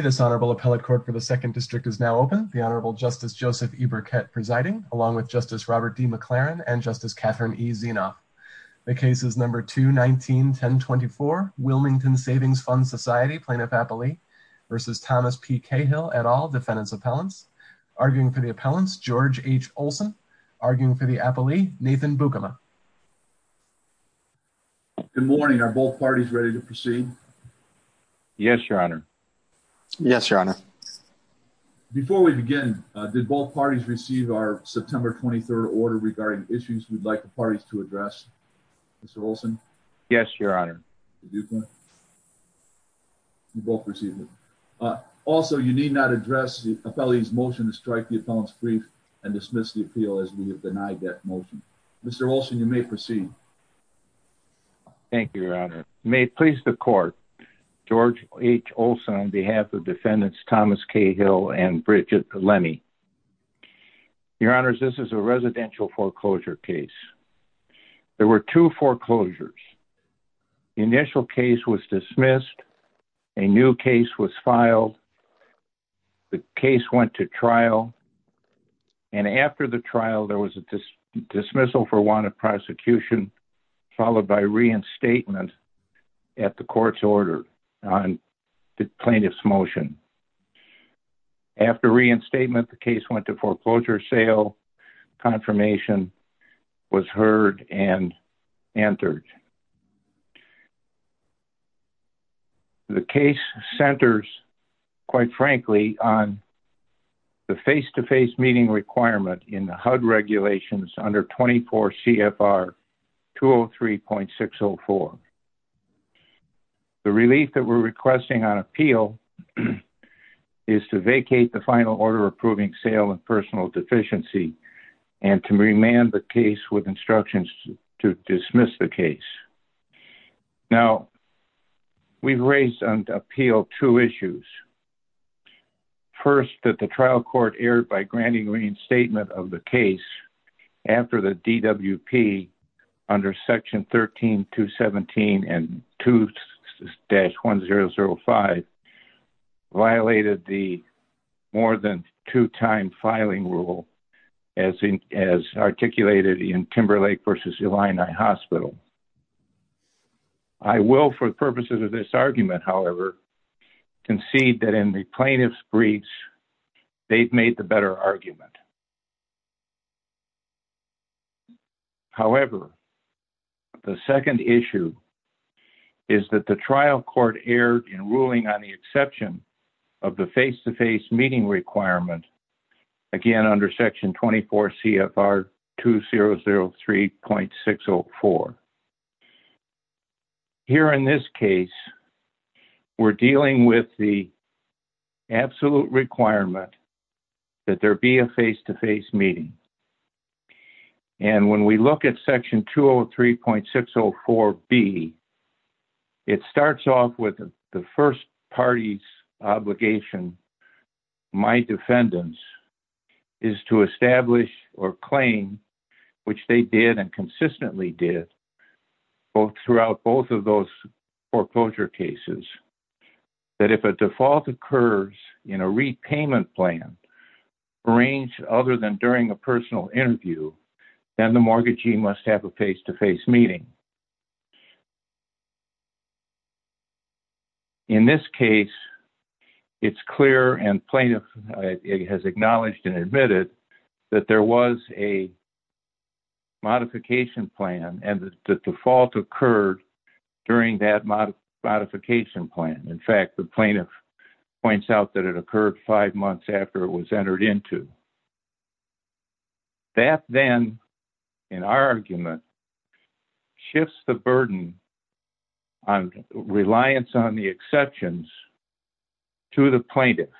This Honorable Appellate Court for the 2nd District is now open. The Honorable Justice Joseph E. Burkett presiding, along with Justice Robert D. McLaren and Justice Catherine E. Zienoff. The case is No. 2-19-1024, Wilmington Savings Fund Society, Plaintiff-Appellee v. Thomas P. Cahill, et al., Defendants' Appellants. Arguing for the Appellants, George H. Olson. Arguing for the Appellee, Nathan Bukama. Good morning, are both parties ready to proceed? Yes, Your Honor. Yes, Your Honor. Before we begin, did both parties receive our September 23rd order regarding issues we'd like the parties to address? Mr. Olson? Yes, Your Honor. Mr. Bukama? You both received it. Also, you need not address the Appellee's motion to strike the Appellant's Brief and dismiss the appeal as we have denied that motion. Mr. Olson, you may proceed. Thank you, Your Honor. May it please the Court, George H. Olson on behalf of Defendants Thomas Cahill and Bridget Lemme. Your Honors, this is a residential foreclosure case. There were two foreclosures. The initial case was dismissed, a new case was filed, the case went to trial, and after the trial, there was a dismissal for want of prosecution, followed by reinstatement at the Court's order on the Plaintiff's motion. After reinstatement, the case went to foreclosure sale, confirmation was heard and entered. The case centers, quite frankly, on the face-to-face meeting requirement in the HUD regulations under 24 CFR 203.604. The relief that we're requesting on appeal is to vacate the final order approving sale and personal deficiency and to remand the case with instructions to dismiss the case. Now, we've raised on appeal two issues. First, that the trial court erred by granting reinstatement of the case after the DWP under Section 13217 and 2-1005 violated the more than two-time filing rule as articulated in Timberlake v. Illini Hospital. I will, for the purposes of this argument, however, concede that in the Plaintiff's briefs, they've made the better argument. However, the second issue is that the trial court erred in ruling on the exception of the face-to-face meeting requirement, again, under Section 24 CFR 203.604. Here, in this case, we're dealing with the absolute requirement that there be a face-to-face meeting. And when we look at Section 203.604B, it starts off with the first party's obligation, my throughout both of those foreclosure cases, that if a default occurs in a repayment plan arranged other than during a personal interview, then the mortgagee must have a face-to-face meeting. In this case, it's clear and Plaintiff has acknowledged and admitted that there was a default occurred during that modification plan. In fact, the Plaintiff points out that it occurred five months after it was entered into. That then, in our argument, shifts the burden on reliance on the exceptions to the Plaintiff,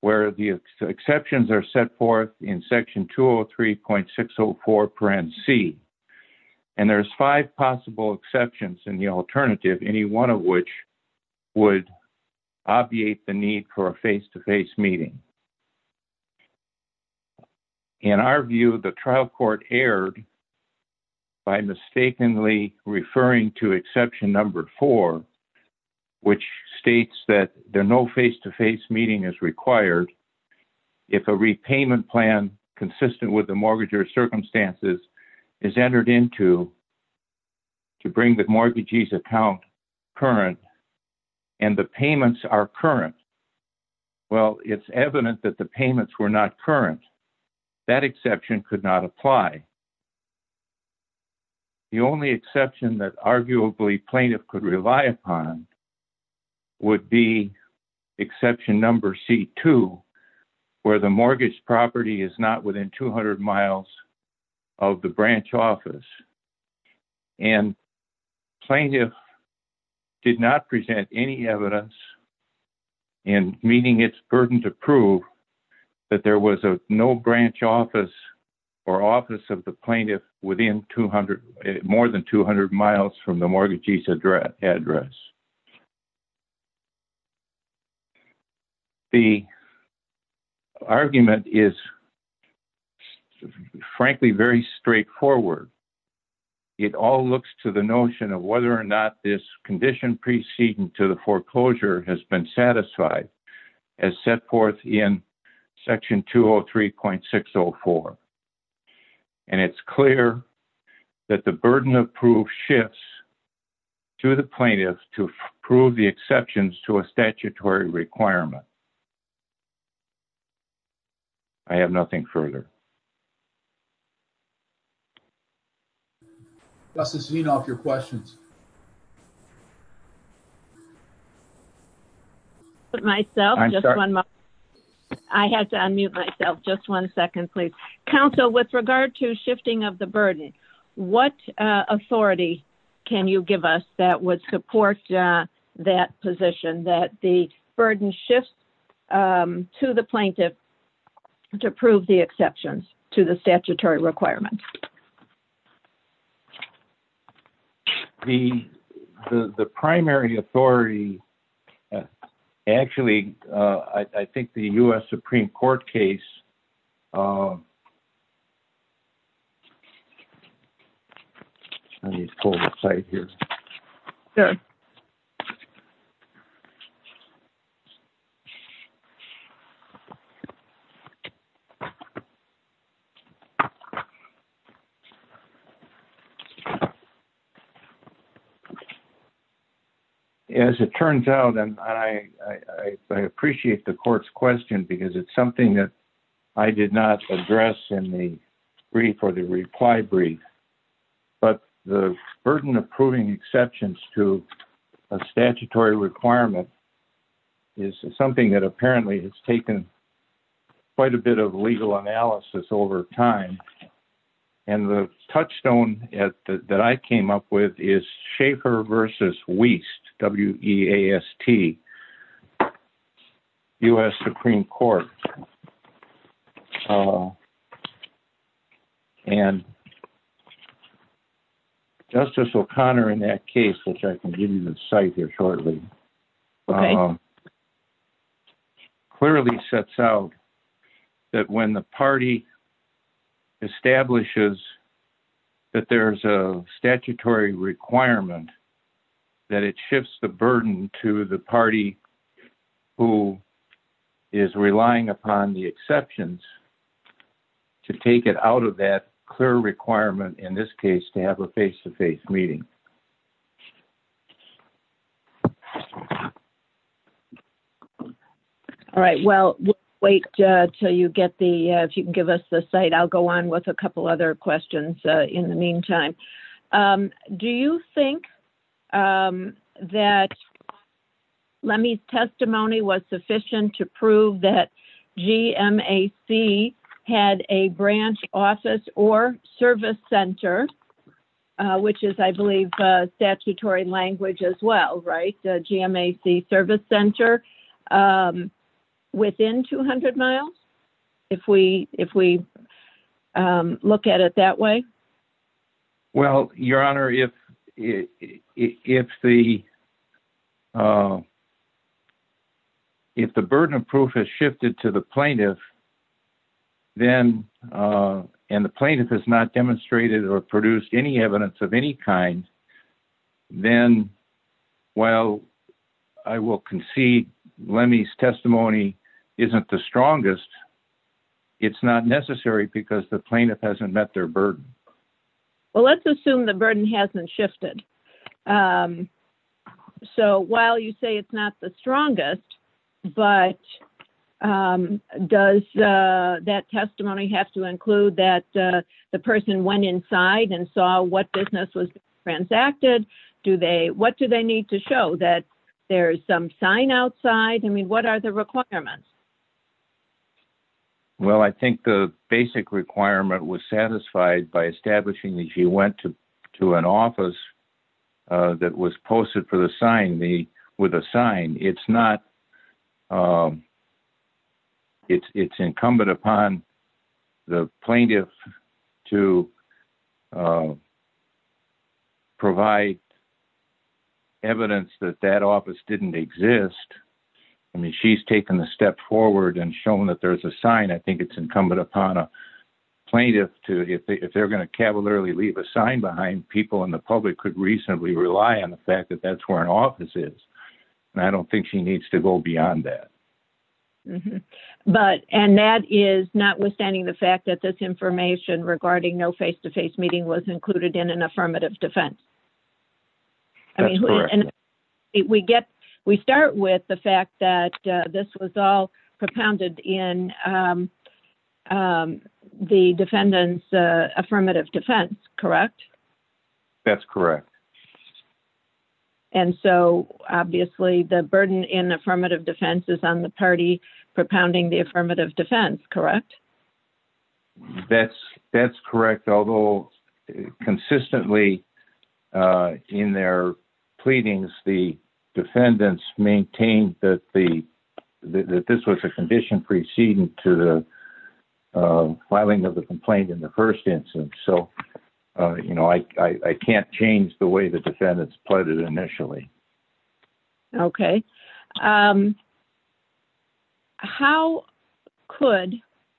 where the exceptions are set forth in Section 203.604, and there's five possible exceptions in the alternative, any one of which would obviate the need for a face-to-face meeting. In our view, the trial court erred by mistakenly referring to exception number four, which states that there no face-to-face meeting is required if a repayment plan consistent with the mortgagor circumstances is entered into to bring the mortgagee's account current and the payments are current. Well, it's evident that the payments were not current. That exception could not apply. The only exception that arguably Plaintiff could rely upon would be exception number C-2, where the mortgage property is not within 200 miles of the branch office, and Plaintiff did not present any evidence in meeting its burden to prove that there was no branch office or office of the Plaintiff within more than 200 miles from the mortgagee's address. The argument is, frankly, very straightforward. It all looks to the notion of whether or not this condition preceding to the foreclosure has been satisfied as set forth in section 203.604, and it's clear that the burden of proof shifts to the Plaintiff to prove the exceptions to a statutory requirement. I have nothing further. I have to unmute myself. Just one second, please. Council, with regard to shifting of the burden, what authority can you give us that would support that position, that the burden shifts to the Plaintiff to prove the exceptions to the statutory requirement? The primary authority, actually, I think the U.S. Supreme Court case... Let me pull this slide here. As it turns out, and I appreciate the court's question, because it's something that I did not address in the brief or the reply brief, but the burden of proving exceptions to a statutory requirement is something that, apparently, has taken quite a bit of legal analysis over time. The touchstone that I came up with is Schaefer v. Wiest, W-E-A-S-T, U.S. Supreme Court. Justice O'Connor, in that case, which I can give you the site here shortly, clearly sets out that when the party establishes that there's a statutory requirement, that it shifts the burden to the party who is relying upon the exceptions to take it out of that clear requirement, in this case, to have a face-to-face meeting. All right. Well, we'll wait until you get the... If you can give us the site, I'll go on with a comment. Let me... Testimony was sufficient to prove that GMAC had a branch office or service center, which is, I believe, statutory language as well, right? GMAC service center within 200 miles, if we look at it that way? Well, Your Honor, if the burden of proof has shifted to the plaintiff, and the plaintiff has not demonstrated or produced any evidence of any kind, then while I will concede Lemmy's testimony isn't the strongest, it's not necessary because the plaintiff hasn't met their burden. Well, let's assume the burden hasn't shifted. So while you say it's not the strongest, but does that testimony have to include that the person went inside and saw what business was transacted? What do they need to show, that there's some sign outside? I mean, what are the requirements? Well, I think the basic requirement was satisfied by establishing that she went to an office that was posted with a sign. It's incumbent upon the plaintiff to provide evidence that that office didn't exist. I mean, she's taken a step forward and shown that there's a sign. I think it's incumbent upon a plaintiff to, if they're going to cavalierly a sign behind, people in the public could reasonably rely on the fact that that's where an office is. And I don't think she needs to go beyond that. But, and that is notwithstanding the fact that this information regarding no face-to-face meeting was included in an affirmative defense. We start with the fact that this was all propounded in the defendant's affirmative defense, correct? That's correct. And so obviously the burden in affirmative defense is on the party propounding the affirmative defense, correct? That's correct. Although consistently in their pleadings, the defendants maintained that this was a condition preceding to the filing of the complaint in the first instance. So, you know, I can't change the way the defendants pleaded initially. Okay. How could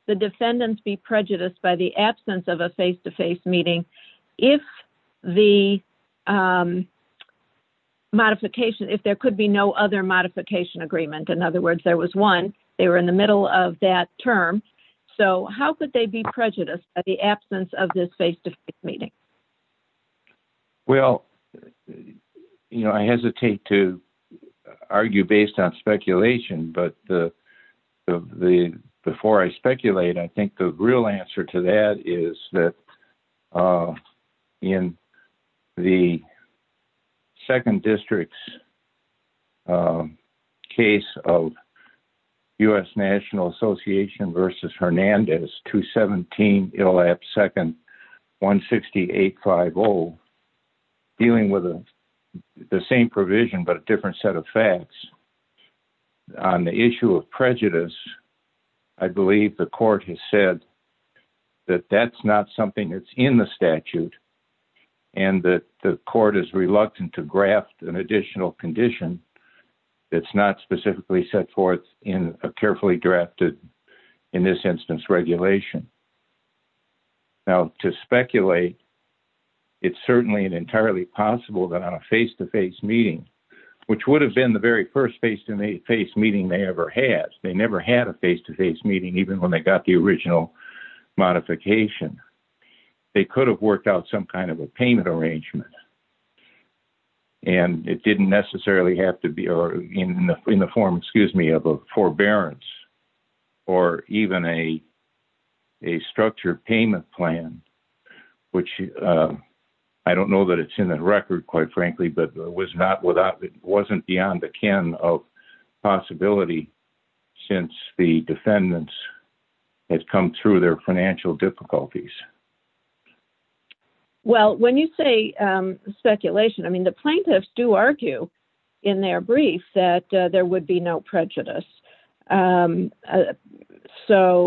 the defendants be prejudiced by the absence of a face-to-face meeting if the modification, if there could be no other modification agreement? In other words, there was one, they were in the middle of that term. So how could they be prejudiced by the absence of this face-to-face meeting? Well, you know, I hesitate to argue based on speculation, but the, before I speculate, I think the real answer to that is that in the second district's case of U.S. National Association versus Hernandez, 217 ILAP second, 16850, dealing with the same provision, but a different set of facts. On the issue of prejudice, I believe the court has said that that's not something that's in the statute and that the court is reluctant to graft an additional condition that's not specifically set forth in a carefully drafted, in this instance, regulation. Now to speculate, it's certainly an entirely possible that on a face-to-face meeting, which would have been the very first face-to-face meeting they ever had, they never had a face-to-face meeting even when they got the original modification, they could have worked out some kind of a payment arrangement and it didn't necessarily have to be, or in the form, excuse me, of a forbearance or even a structured payment plan, which I don't know that it's in the record quite frankly, but it was not without, it wasn't beyond the ken of possibility since the defendants had come through their financial difficulties. Well, when you say speculation, I mean, the plaintiffs do argue in their brief that there would be no prejudice. So,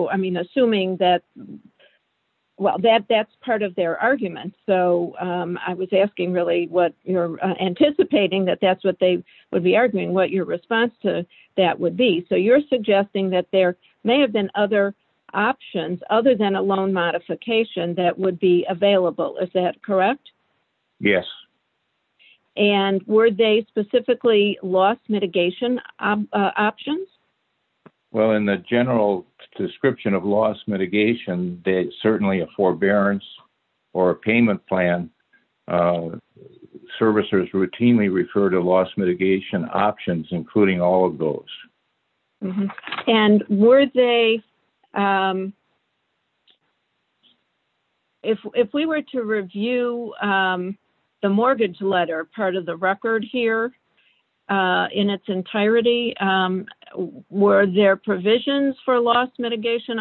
I mean, assuming that, well, that's part of their argument. So, I was asking really what you're anticipating that that's what they would be arguing, what your response to that would be. So, you're suggesting that there may have been other options other than a loan modification that would be available, is that correct? Yes. And were they specifically loss mitigation options? Well, in the general description of loss mitigation, that certainly a forbearance or a payment plan, servicers routinely refer to loss mitigation options, including all of those. And were they, if we were to review the mortgage letter, part of the record here in its entirety, were there provisions for loss mitigation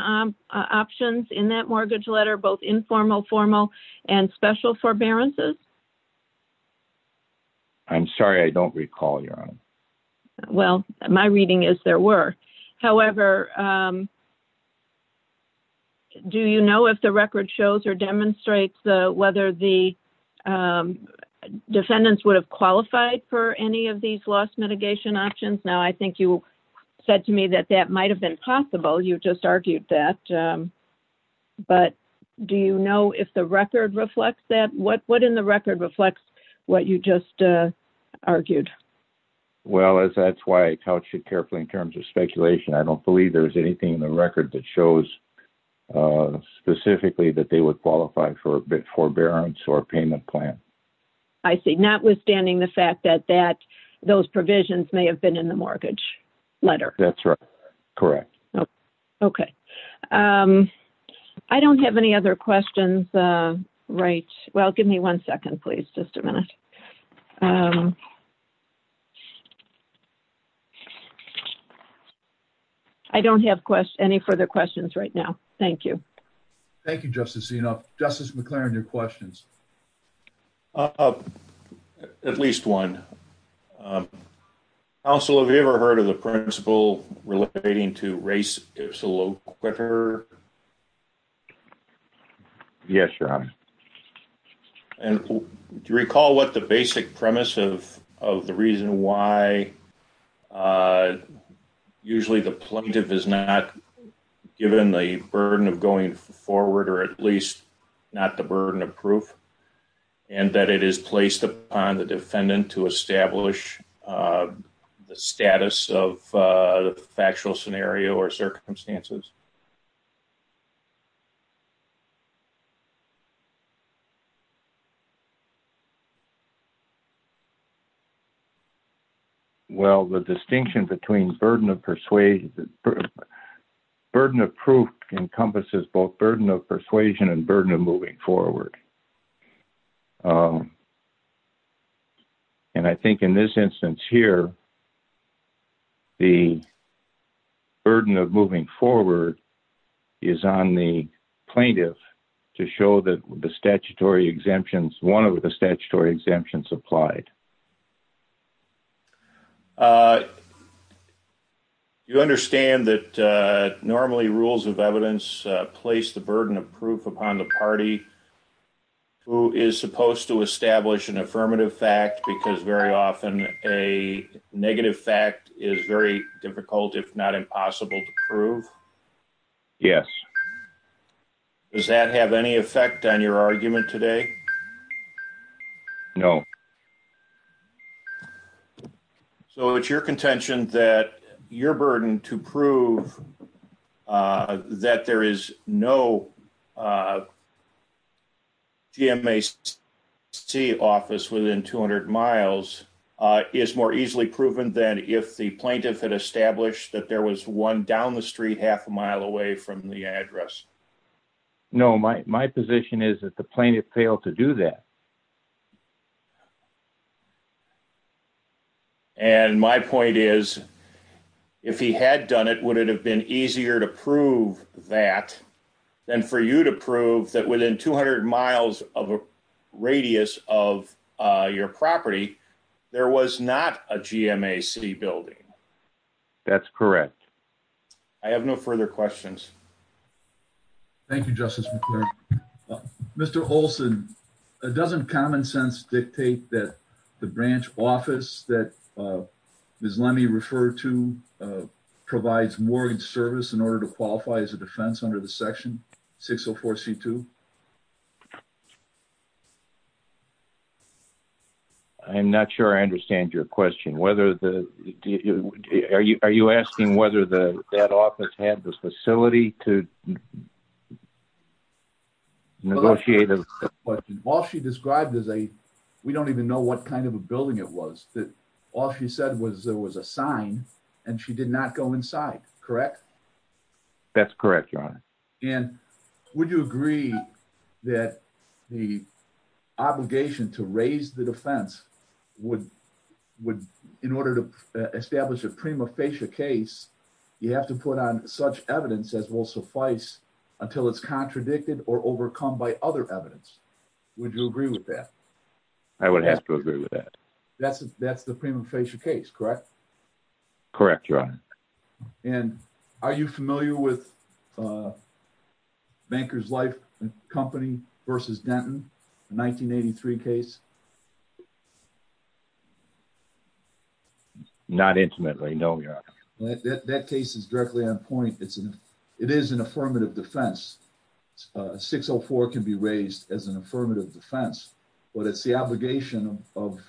options in that mortgage letter, both informal, formal and special forbearances? I'm sorry, I don't recall, Your Honor. Well, my reading is there were. However, do you know if the record shows or demonstrates whether the defendants would have qualified for any of these loss mitigation options? I think you said to me that that might have been possible. You just argued that. But do you know if the record reflects that? What in the record reflects what you just argued? Well, that's why I couched it carefully in terms of speculation. I don't believe there's anything in the record that shows specifically that they would qualify for a forbearance or payment plan. I see. Notwithstanding the fact that that those provisions may have been in the mortgage letter. That's right. Correct. Okay. I don't have any other questions. Right. Well, give me one second, please. Just a minute. I don't have any further questions right now. Thank you. Thank you, Justice Enoff. Justice McLaren, your questions? At least one. Counsel, have you ever heard of the principle relating to race? Yes, Your Honor. And do you recall what the basic premise of the reason why usually the plaintiff is not given the burden of going forward or at least not the burden of proof and that it is placed upon the defendant to establish the status of the factual scenario or burden of persuasion? The burden of proof encompasses both burden of persuasion and burden of moving forward. And I think in this instance here, the burden of moving forward is on the plaintiff to show that the statutory exemptions, one of the statutory exemptions applied. You understand that normally rules of evidence place the burden of proof upon the party who is supposed to establish an affirmative fact because very often a negative fact is very difficult, if not impossible to prove? Yes. Does that have any effect on your argument today? No. So it's your contention that your burden to prove that there is no GMAC office within 200 miles is more easily proven than if the plaintiff had established that there was one down the street half a mile away from the address? No, my position is that plaintiff failed to do that. And my point is, if he had done it, would it have been easier to prove that than for you to prove that within 200 miles of a radius of your property, there was not a GMAC building? That's correct. I have no further questions. Thank you, Justice McClure. Mr. Olson, doesn't common sense dictate that the branch office that Ms. Lemme referred to provides mortgage service in order to qualify as a defense under the section 604C2? I'm not sure I understand your question. Are you asking whether that office had the facility to negotiate? All she described is a, we don't even know what kind of a building it was, that all she said was there was a sign and she did not go inside, correct? That's correct, Your Honor. And would you agree that the obligation to raise the defense would, in order to suffice until it's contradicted or overcome by other evidence, would you agree with that? I would have to agree with that. That's the Premum Fascia case, correct? Correct, Your Honor. And are you familiar with Banker's Life Company v. Denton, the 1983 case? Not intimately, no, Your Honor. That case is directly on point. It is an affirmative defense. 604 can be raised as an affirmative defense, but it's the obligation of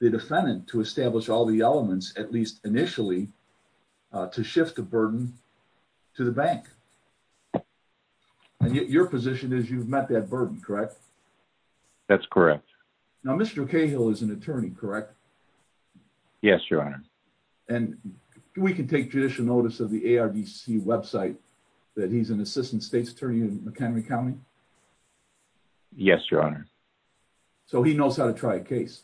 the defendant to establish all the elements, at least initially, to shift the burden to the bank. And your position is you've met that burden, correct? That's correct. Now, Mr. Cahill is an attorney, correct? Yes, Your Honor. And we can take judicial notice of the ARDC website that he's an assistant state's attorney in McHenry County? Yes, Your Honor. So he knows how to try a case?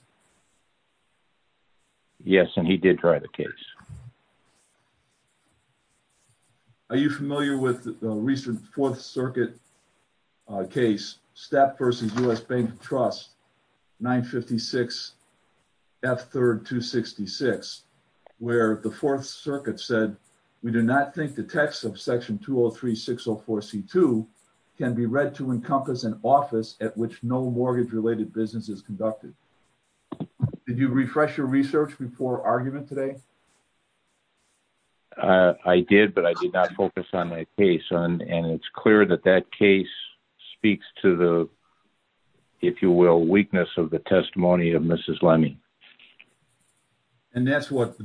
Yes, and he did try the case. Are you familiar with the recent Fourth Circuit case, Stapp v. U.S. Bank and Trust, 956F3-266, where the Fourth Circuit said, we do not think the text of Section 203-604-C2 can be read to encompass an office at which no mortgage-related business is conducted. Did you refresh your mind? I did, but I did not focus on that case. And it's clear that that case speaks to the, if you will, weakness of the testimony of Mrs. Lemming. And that's what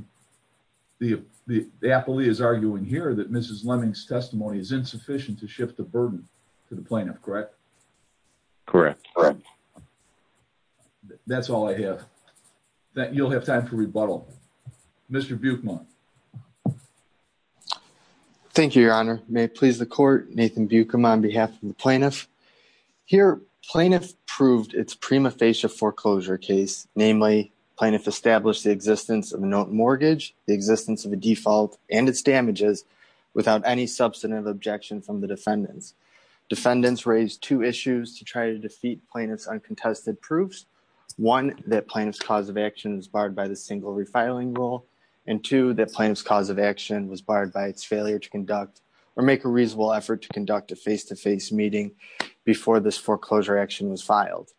the affilee is arguing here, that Mrs. Lemming's testimony is insufficient to shift the burden to the plaintiff, correct? Correct. That's all I have. You'll have time for rebuttal. Mr. Buchman. Thank you, Your Honor. May it please the court, Nathan Buchman on behalf of the plaintiff. Here, plaintiff proved its prima facie foreclosure case, namely plaintiff established the existence of a note mortgage, the existence of a default and its damages without any substantive objection from the defendants. Defendants raised two issues to try to defeat plaintiff's uncontested proofs. One, that plaintiff's cause of action was barred by the single refiling rule. And two, that plaintiff's cause of action was barred by its failure to conduct or make a reasonable effort to conduct a face-to-face meeting before this foreclosure action was filed.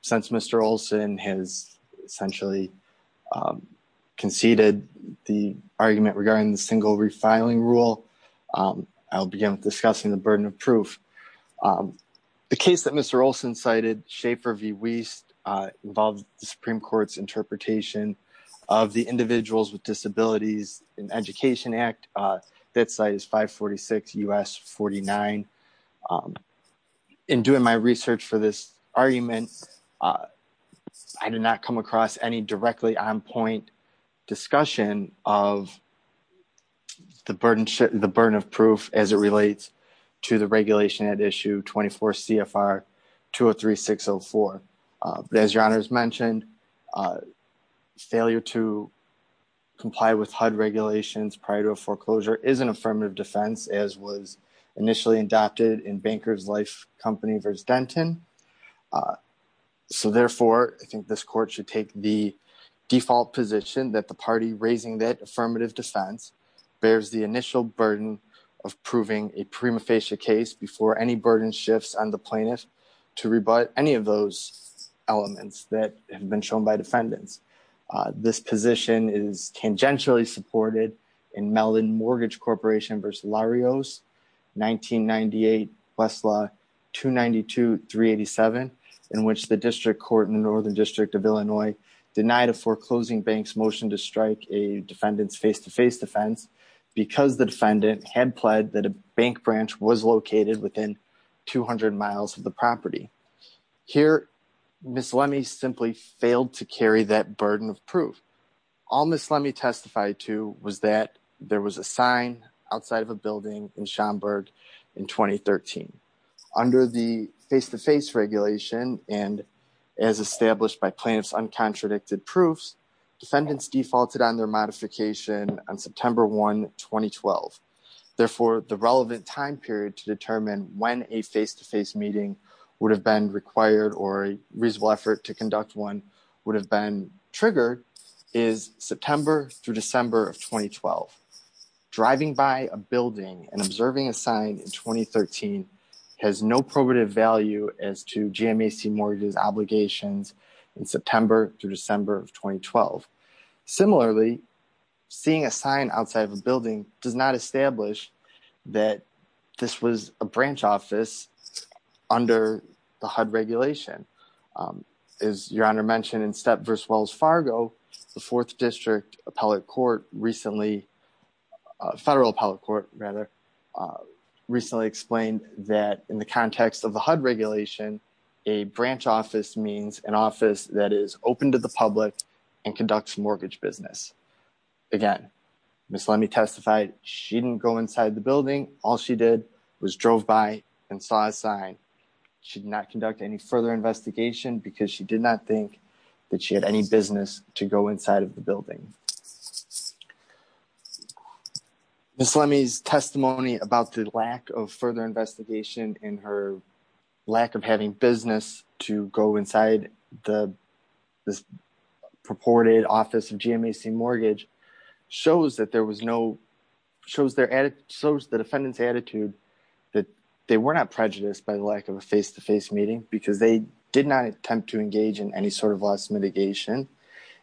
Since Mr. Olson has essentially conceded the argument regarding the single refiling rule, I'll begin with discussing the burden of proof. The case that Mr. Olson cited, Schaefer v. Wiest, involved the Supreme Court's interpretation of the Individuals with Disabilities in Education Act. That site is 546 U.S. 49. In doing my research for this argument, I did not come across any directly on-point discussion of the burden of proof as it relates to the regulation at issue 24 CFR 203604. But as your honors mentioned, failure to comply with HUD regulations prior to a foreclosure is an affirmative defense, as was initially adopted in Bankers Life Company v. Denton. So therefore, I think this court should take the default position that the party raising that affirmative defense bears the initial burden of proving a prima facie case before any burden shifts on the plaintiff to rebut any of those elements that have been shown by defendants. This position is tangentially supported in Melvin Mortgage Corporation v. Larios, 1998 Westlaw 292387, in which the District Court in the Northern District of Illinois denied a foreclosing bank's motion to strike a defendant's face-to-face defense because the defendant had pled that a bank branch was located within 200 miles of the property. Here, Ms. Lemme simply failed to carry that burden of proof. All Ms. Lemme testified to was that there was a sign outside of a building in Schaumburg in 2013. Under the face-to-face regulation and as established by plaintiff's uncontradicted proofs, defendants defaulted on their modification on September 1, 2012. Therefore, the relevant time period to determine when a face-to-face meeting would have been required or a reasonable effort to conduct one would have been triggered is September through December of 2012. Driving by a building and observing a sign in 2013 has no probative value as to GMAC Mortgage's obligations in September through December of 2012. Similarly, seeing a sign outside of a building does not establish that this was a branch office under the HUD regulation. As Your Honor mentioned in Step versus Wells Fargo, the Fourth District Appellate Court recently, Federal Appellate Court rather, recently explained that in the context of conducts mortgage business. Again, Ms. Lemme testified she didn't go inside the building. All she did was drove by and saw a sign. She did not conduct any further investigation because she did not think that she had any business to go inside of the building. Ms. Lemme's testimony about the lack of further investigation and her lack of having business to go inside the purported office of GMAC Mortgage shows the defendant's attitude that they were not prejudiced by the lack of a face-to-face meeting because they did not attempt to engage in any sort of loss mitigation.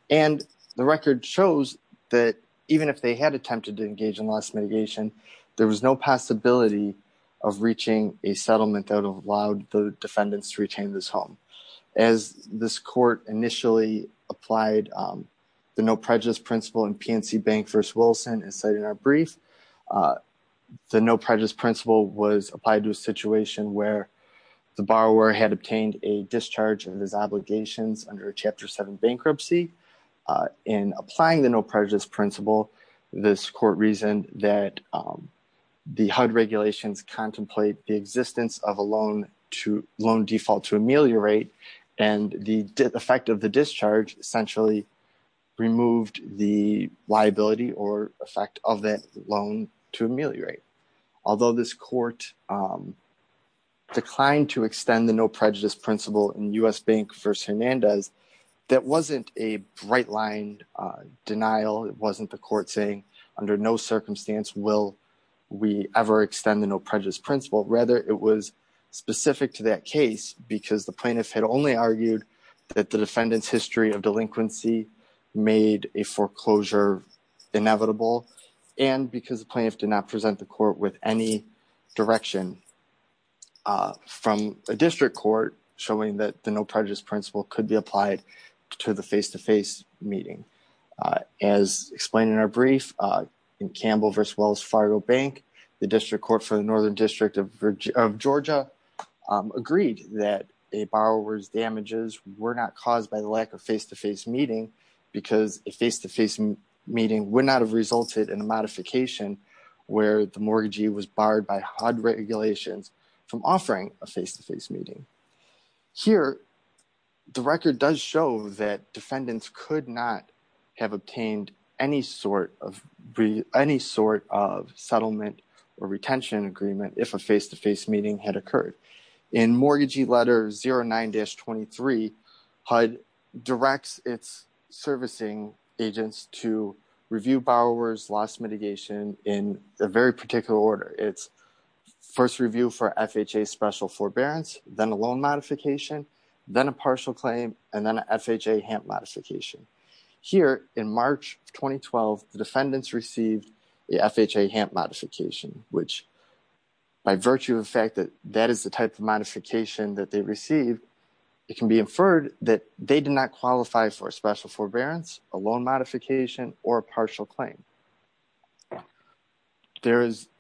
The record shows that even if they had attempted to engage in loss mitigation, there was no possibility of reaching a settlement that allowed the defendants to retain this home. As this court initially applied the No Prejudice Principle in PNC Bank v. Wilson, as cited in our brief, the No Prejudice Principle was applied to a situation where the borrower had obtained a discharge of his obligations under a Chapter 7 bankruptcy. In applying the No Prejudice Principle, this court reasoned that the HUD regulations contemplate the existence of a loan default to ameliorate, and the effect of the discharge essentially removed the liability or effect of that loan to ameliorate. Although this court declined to extend the No Prejudice Principle in U.S. Bank v. Hernandez, that wasn't a bright-line denial. It wasn't the court saying, under no circumstance will we ever extend the No Prejudice Principle. Rather, it was specific to that case because the plaintiff had only argued that the defendant's history of delinquency made a foreclosure inevitable, and because the plaintiff did not present the court with any direction from a district court showing that the No Prejudice Principle could be applied to the face-to-face meeting. As explained in our brief, in Campbell v. Wells Fargo Bank, the District Court for the Northern District of Georgia agreed that a borrower's damages were not caused by the lack of face-to-face meeting because a face-to-face meeting would not have resulted in a modification where the mortgagee was barred by HUD regulations from offering a face-to-face meeting. Here, the record does show that defendants could not have obtained any sort of settlement or retention agreement if a face-to-face meeting had occurred. In Mortgagee Letter 09-23, HUD directs its servicing agents to review borrower's loss mitigation in a very particular order. It's first review for FHA special forbearance, then a loan modification, then a partial claim, and then an FHA HAMP modification. Here, in March 2012, the defendants received the FHA HAMP modification, which by virtue of the fact that that is the type of modification that they received, it can be inferred that they did not receive any sort of settlement or retention agreement.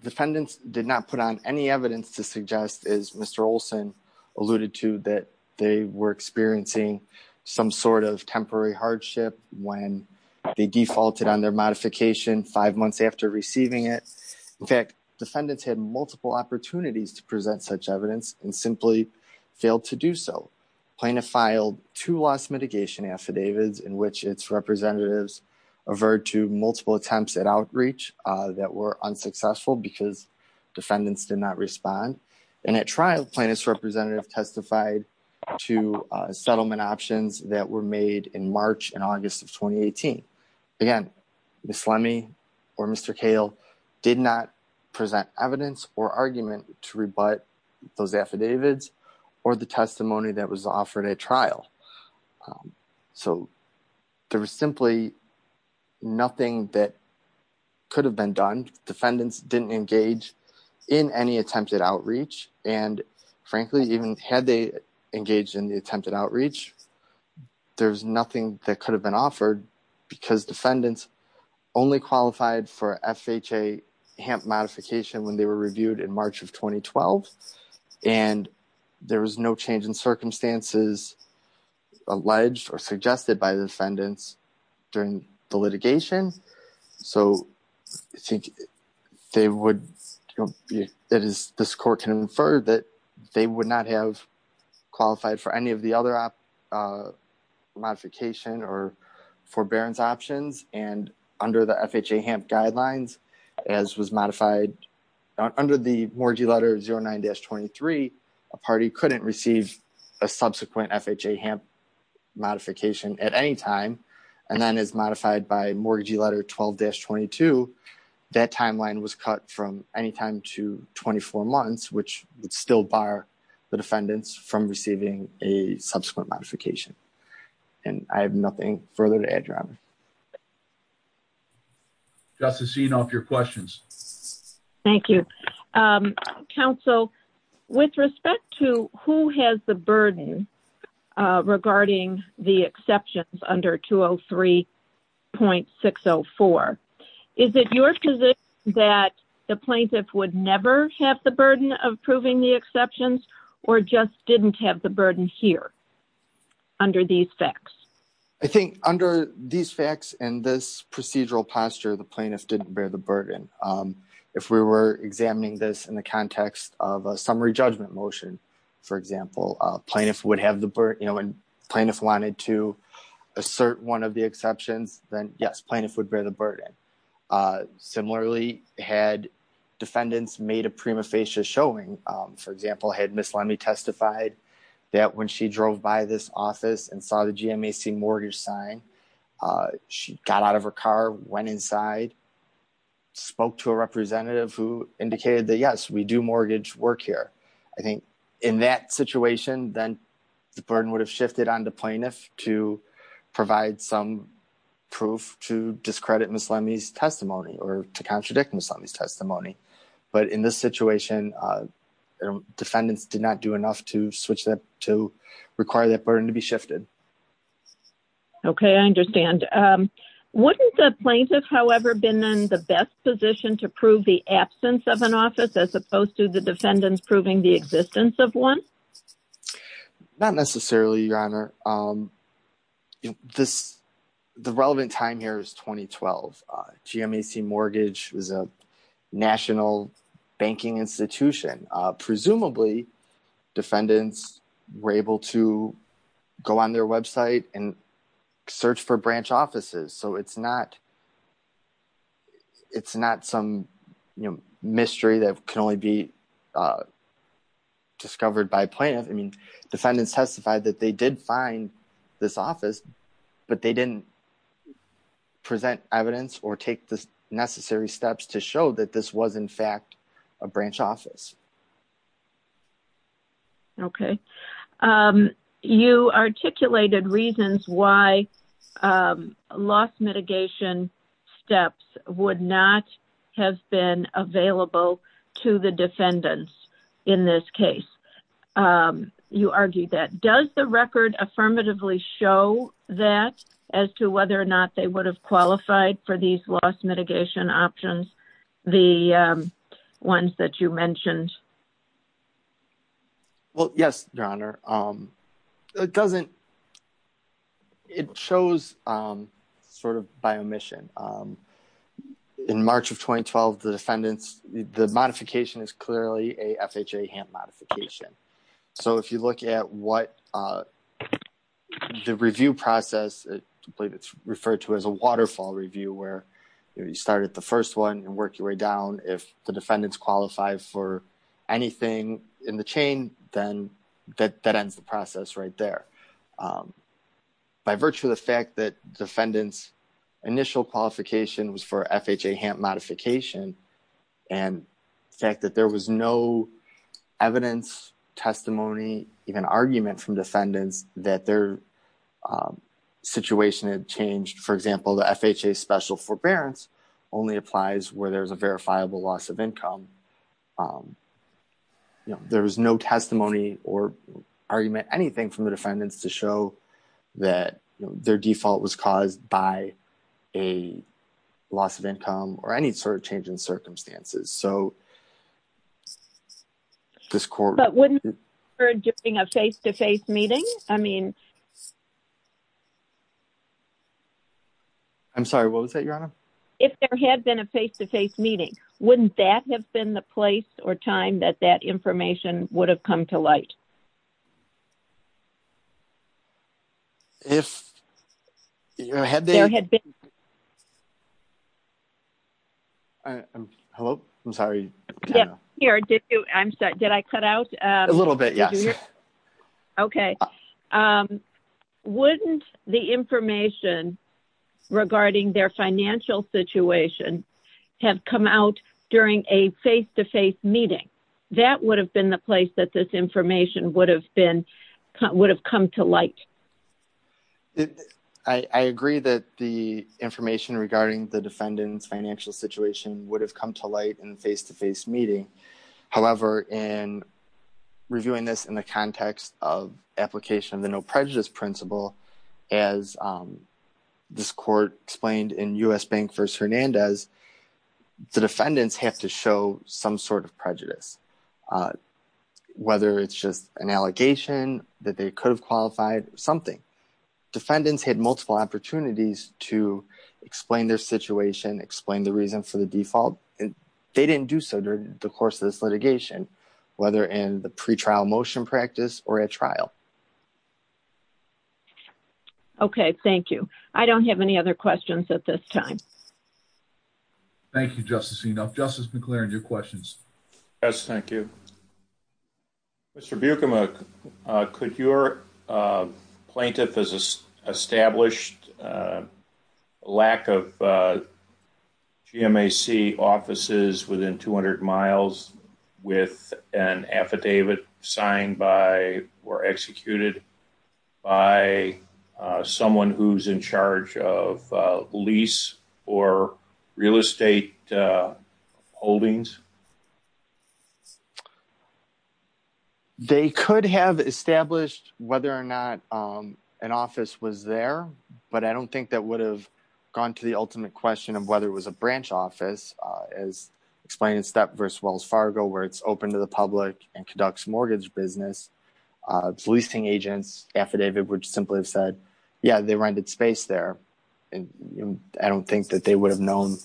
Defendants did not put on any evidence to suggest, as Mr. Olson alluded to, that they were experiencing some sort of temporary hardship when they defaulted on their modification five months after receiving it. In fact, defendants had multiple opportunities to present such evidence and simply failed to do so. Plaintiff filed two loss mitigation affidavits in which its representatives averred to multiple attempts at outreach that were unsuccessful because defendants did not respond. And at trial, plaintiff's representative testified to settlement options that were made in March and August of 2018. Again, Ms. Lemme or Mr. Kahle did not present evidence or argument to rebut those affidavits or the testimony that was offered at trial. So, there was simply nothing that could have been done. Defendants didn't engage in any attempted outreach. And frankly, even had they engaged in the attempted outreach, there's nothing that could have been offered because defendants only qualified for FHA HAMP modification when they were reviewed in March of 2012. And there was no change in circumstances alleged or suggested by the defendants during the litigation. So, I think they would, that is, this court can infer that they would not have qualified for any of the other modification or forbearance options. And under the FHA HAMP guidelines, as was modified under the mortgagee letter 09-23, a party couldn't receive a subsequent FHA HAMP modification at any time. And then as modified by mortgagee letter 12-22, that timeline was cut from any time to 24 months, which would still bar the defendants from receiving a subsequent modification. And I have nothing further to add, Your Honor. Thank you. Justice Enoff, your questions. Thank you. Counsel, with respect to who has the burden regarding the exceptions under 203.604, is it your position that the plaintiff would never have the burden of proving the exceptions or just didn't have the burden here under these facts? I think under these facts and this procedural posture, the plaintiff didn't bear the burden. If we were examining this in the context of a summary judgment motion, for example, plaintiff would have the burden, you know, and plaintiff wanted to assert one of the exceptions, then yes, plaintiff would bear the burden. Similarly, had defendants made a prima facie showing, for example, had Ms. Lemme testified that when she drove by this office and saw the mortgage sign, she got out of her car, went inside, spoke to a representative who indicated that, yes, we do mortgage work here. I think in that situation, then the burden would have shifted on the plaintiff to provide some proof to discredit Ms. Lemme's testimony or to contradict Ms. Lemme's testimony. But in this situation, defendants did not do enough to switch that to require that burden to be shifted. Okay, I understand. Wouldn't the plaintiff, however, been in the best position to prove the absence of an office as opposed to the defendants proving the existence of one? Not necessarily, Your Honor. The relevant time here is 2012. GMAC Mortgage was a national banking institution. Presumably, defendants were able to go on their website and search for branch offices. So it's not some mystery that can only be discovered by plaintiff. I mean, defendants testified that they did find this office, but they didn't present evidence or take the necessary steps to show that this was, in fact, a branch office. Okay. You articulated reasons why loss mitigation steps would not have been available to the defendants in this case. You argued that. Does the record affirmatively show that as to whether or not they would have the ones that you mentioned? Well, yes, Your Honor. It shows sort of by omission. In March of 2012, the modification is clearly a FHA HAMP modification. So if you look at what the review process, I believe it's referred to as a waterfall review where you started the first one and work your way down. If the defendants qualify for anything in the chain, then that ends the process right there. By virtue of the fact that defendant's initial qualification was for FHA HAMP modification and the fact that there was no evidence, testimony, even argument from where there's a verifiable loss of income, there was no testimony or argument, anything from the defendants to show that their default was caused by a loss of income or any sort of change in circumstances. So this court... But wouldn't it have occurred during a face-to-face meeting? I mean... I'm sorry. What was that, Your Honor? If there had been a face-to-face meeting, wouldn't that have been the place or time that that information would have come to light? If... Had they... There had been... Hello? I'm sorry. Yeah, here. Did you... I'm sorry. Did I cut out? A little bit, yes. Okay. Wouldn't the information regarding their financial situation have come out during a face-to-face meeting? That would have been the place that this information would have been... would have come to light. I agree that the information regarding the defendant's financial situation would have come to light in a face-to-face meeting. However, in reviewing this in the context of application of the no prejudice principle, as this court explained in U.S. Bank v. Hernandez, the defendants have to show some sort of prejudice, whether it's just an allegation that they could have qualified, something. Defendants had multiple opportunities to explain their situation, explain the reason for the default, and they didn't do so during the course of this litigation, whether in the pre-trial motion practice or at trial. Okay, thank you. I don't have any other questions at this time. Thank you, Justice Enoff. Justice McClaren, your questions? Yes, thank you. Mr. Bukamuk, could your with an affidavit signed by or executed by someone who's in charge of lease or real estate holdings? They could have established whether or not an office was there, but I don't think that would have gone to the ultimate question of whether it was a branch office, as explained in Step v. Wells Fargo, where it's open to the public and conducts mortgage business. Leasing agents affidavit would simply have said, yeah, they rented space there, and I don't think that they would have known,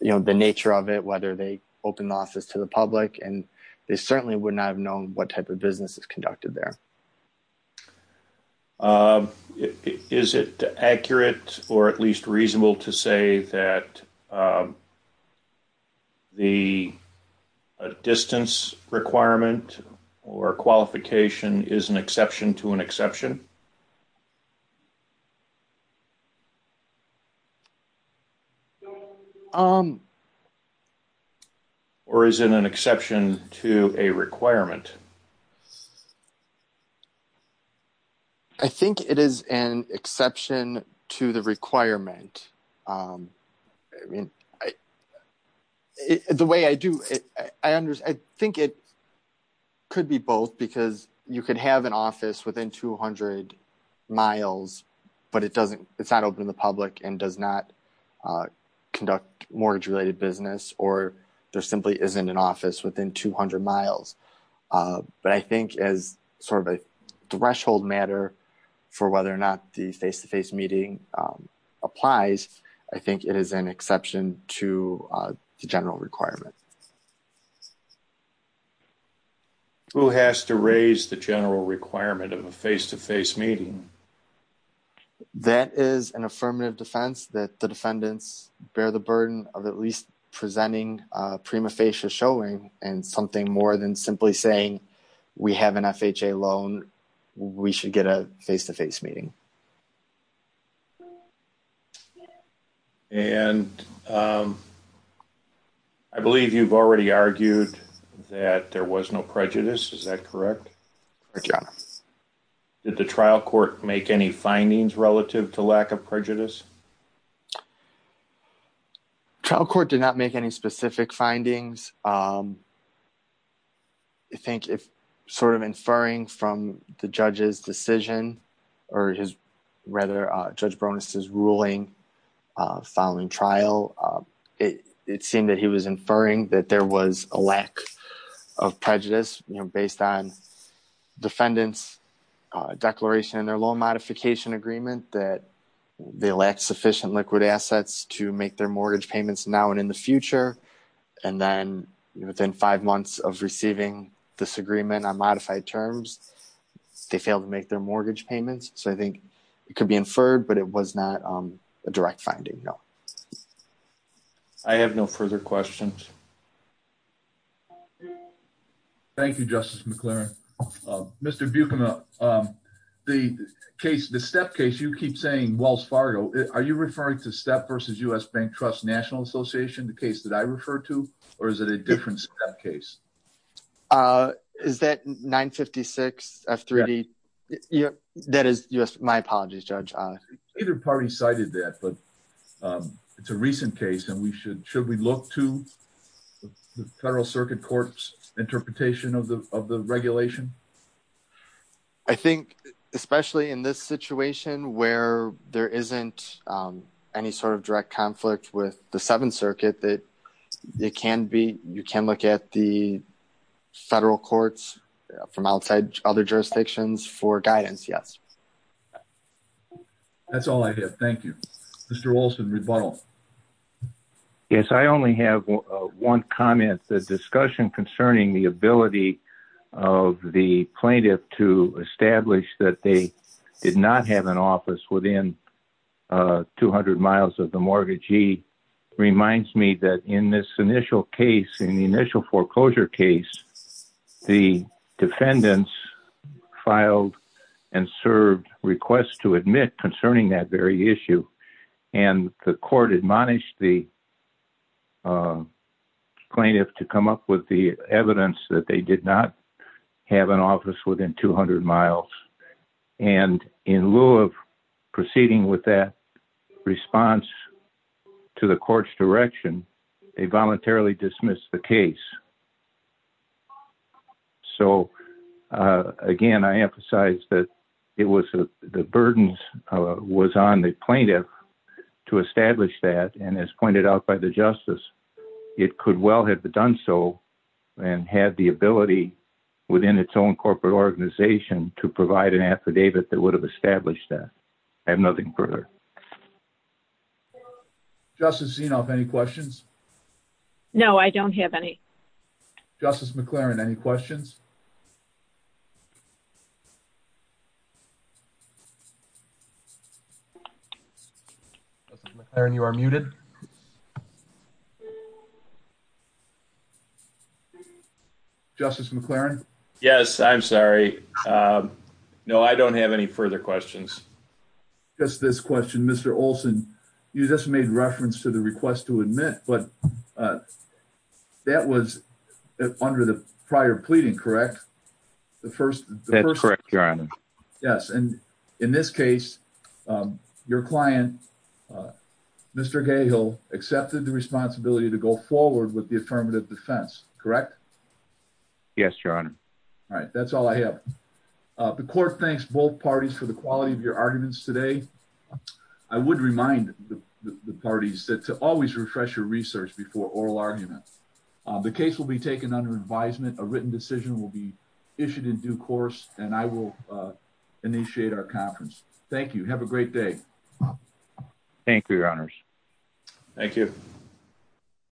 you know, the nature of it, whether they opened the office to the public, and they certainly would not have known what type of business is conducted there. Is it accurate or at least reasonable to say that the distance requirement or qualification is an exception to an exception? Or is it an exception to a requirement? I think it is an exception to the requirement. I mean, the way I do it, I think it could be both, because you could have an office within 200 miles, but it's not open to the public and does not conduct mortgage-related business, or there simply isn't an office within 200 miles. But I think as sort of a threshold matter for whether or not the face-to-face meeting applies, I think it is an exception to the general requirement. Who has to raise the general requirement of a face-to-face meeting? That is an affirmative defense that the defendants bear the burden of at least presenting a prima saying we have an FHA loan, we should get a face-to-face meeting. And I believe you have already argued that there was no prejudice. Is that correct? Did the trial court make any findings relative to lack of prejudice? The trial court did not make any specific findings. I think if sort of inferring from the judge's decision, or rather, Judge Bronis' ruling following trial, it seemed that he was inferring that there was a lack of prejudice based on defendants' declaration in their modification agreement that they lacked sufficient liquid assets to make their mortgage payments now and in the future. And then within five months of receiving this agreement on modified terms, they failed to make their mortgage payments. So I think it could be inferred, but it was not a direct finding, no. I have no further questions. Thank you, Justice McLaren. Mr. Buchanan, the step case, you keep saying Wells Fargo. Are you referring to Step versus U.S. Bank Trust National Association, the case that I refer to, or is it a different step case? Is that 956 F3D? That is my apologies, Judge. Either party cited that, but it's a recent case, and should we look to the Federal Circuit Court's interpretation of the regulation? I think, especially in this situation where there isn't any sort of direct conflict with the Seventh Circuit, you can look at the federal courts from outside other jurisdictions for guidance, yes. That's all I have. Thank you. Mr. Olson, rebuttal. Yes, I only have one comment. The discussion concerning the ability of the plaintiff to establish that they did not have an office within 200 miles of the mortgagee reminds me that in this initial case, in the initial foreclosure case, the defendants filed and served requests to admit concerning that very issue. The court admonished the plaintiff to come up with the evidence that they did not have an office within 200 miles. In lieu of proceeding with that response to the court's direction, they voluntarily dismissed the case. Again, I emphasize that the burden was on the plaintiff to establish that, and as pointed out by the justice, it could well have done so and had the ability within its own corporate organization to provide an affidavit that would have established that. I have nothing further. Justice Zinoff, any questions? No, I don't have any. Justice McLaren, any questions? Justice McLaren, you are muted. Justice McLaren? Yes, I'm sorry. No, I don't have any further questions. Just this question. Mr. Olson, you just made reference to the request to admit, but that was under the prior pleading, correct? That's correct, Your Honor. Yes, and in this case, your client, Mr. Gahill, accepted the responsibility to go forward with the affirmative defense, correct? Yes, Your Honor. All right, that's all I have. The court thanks both parties for the quality of your arguments today. I would remind the parties that to always refresh your research before oral argument. The case will be taken under advisement. A written decision will be issued in due course, and I will initiate our conference. Thank you. Have a great day. Thank you, Your Honors. Thank you.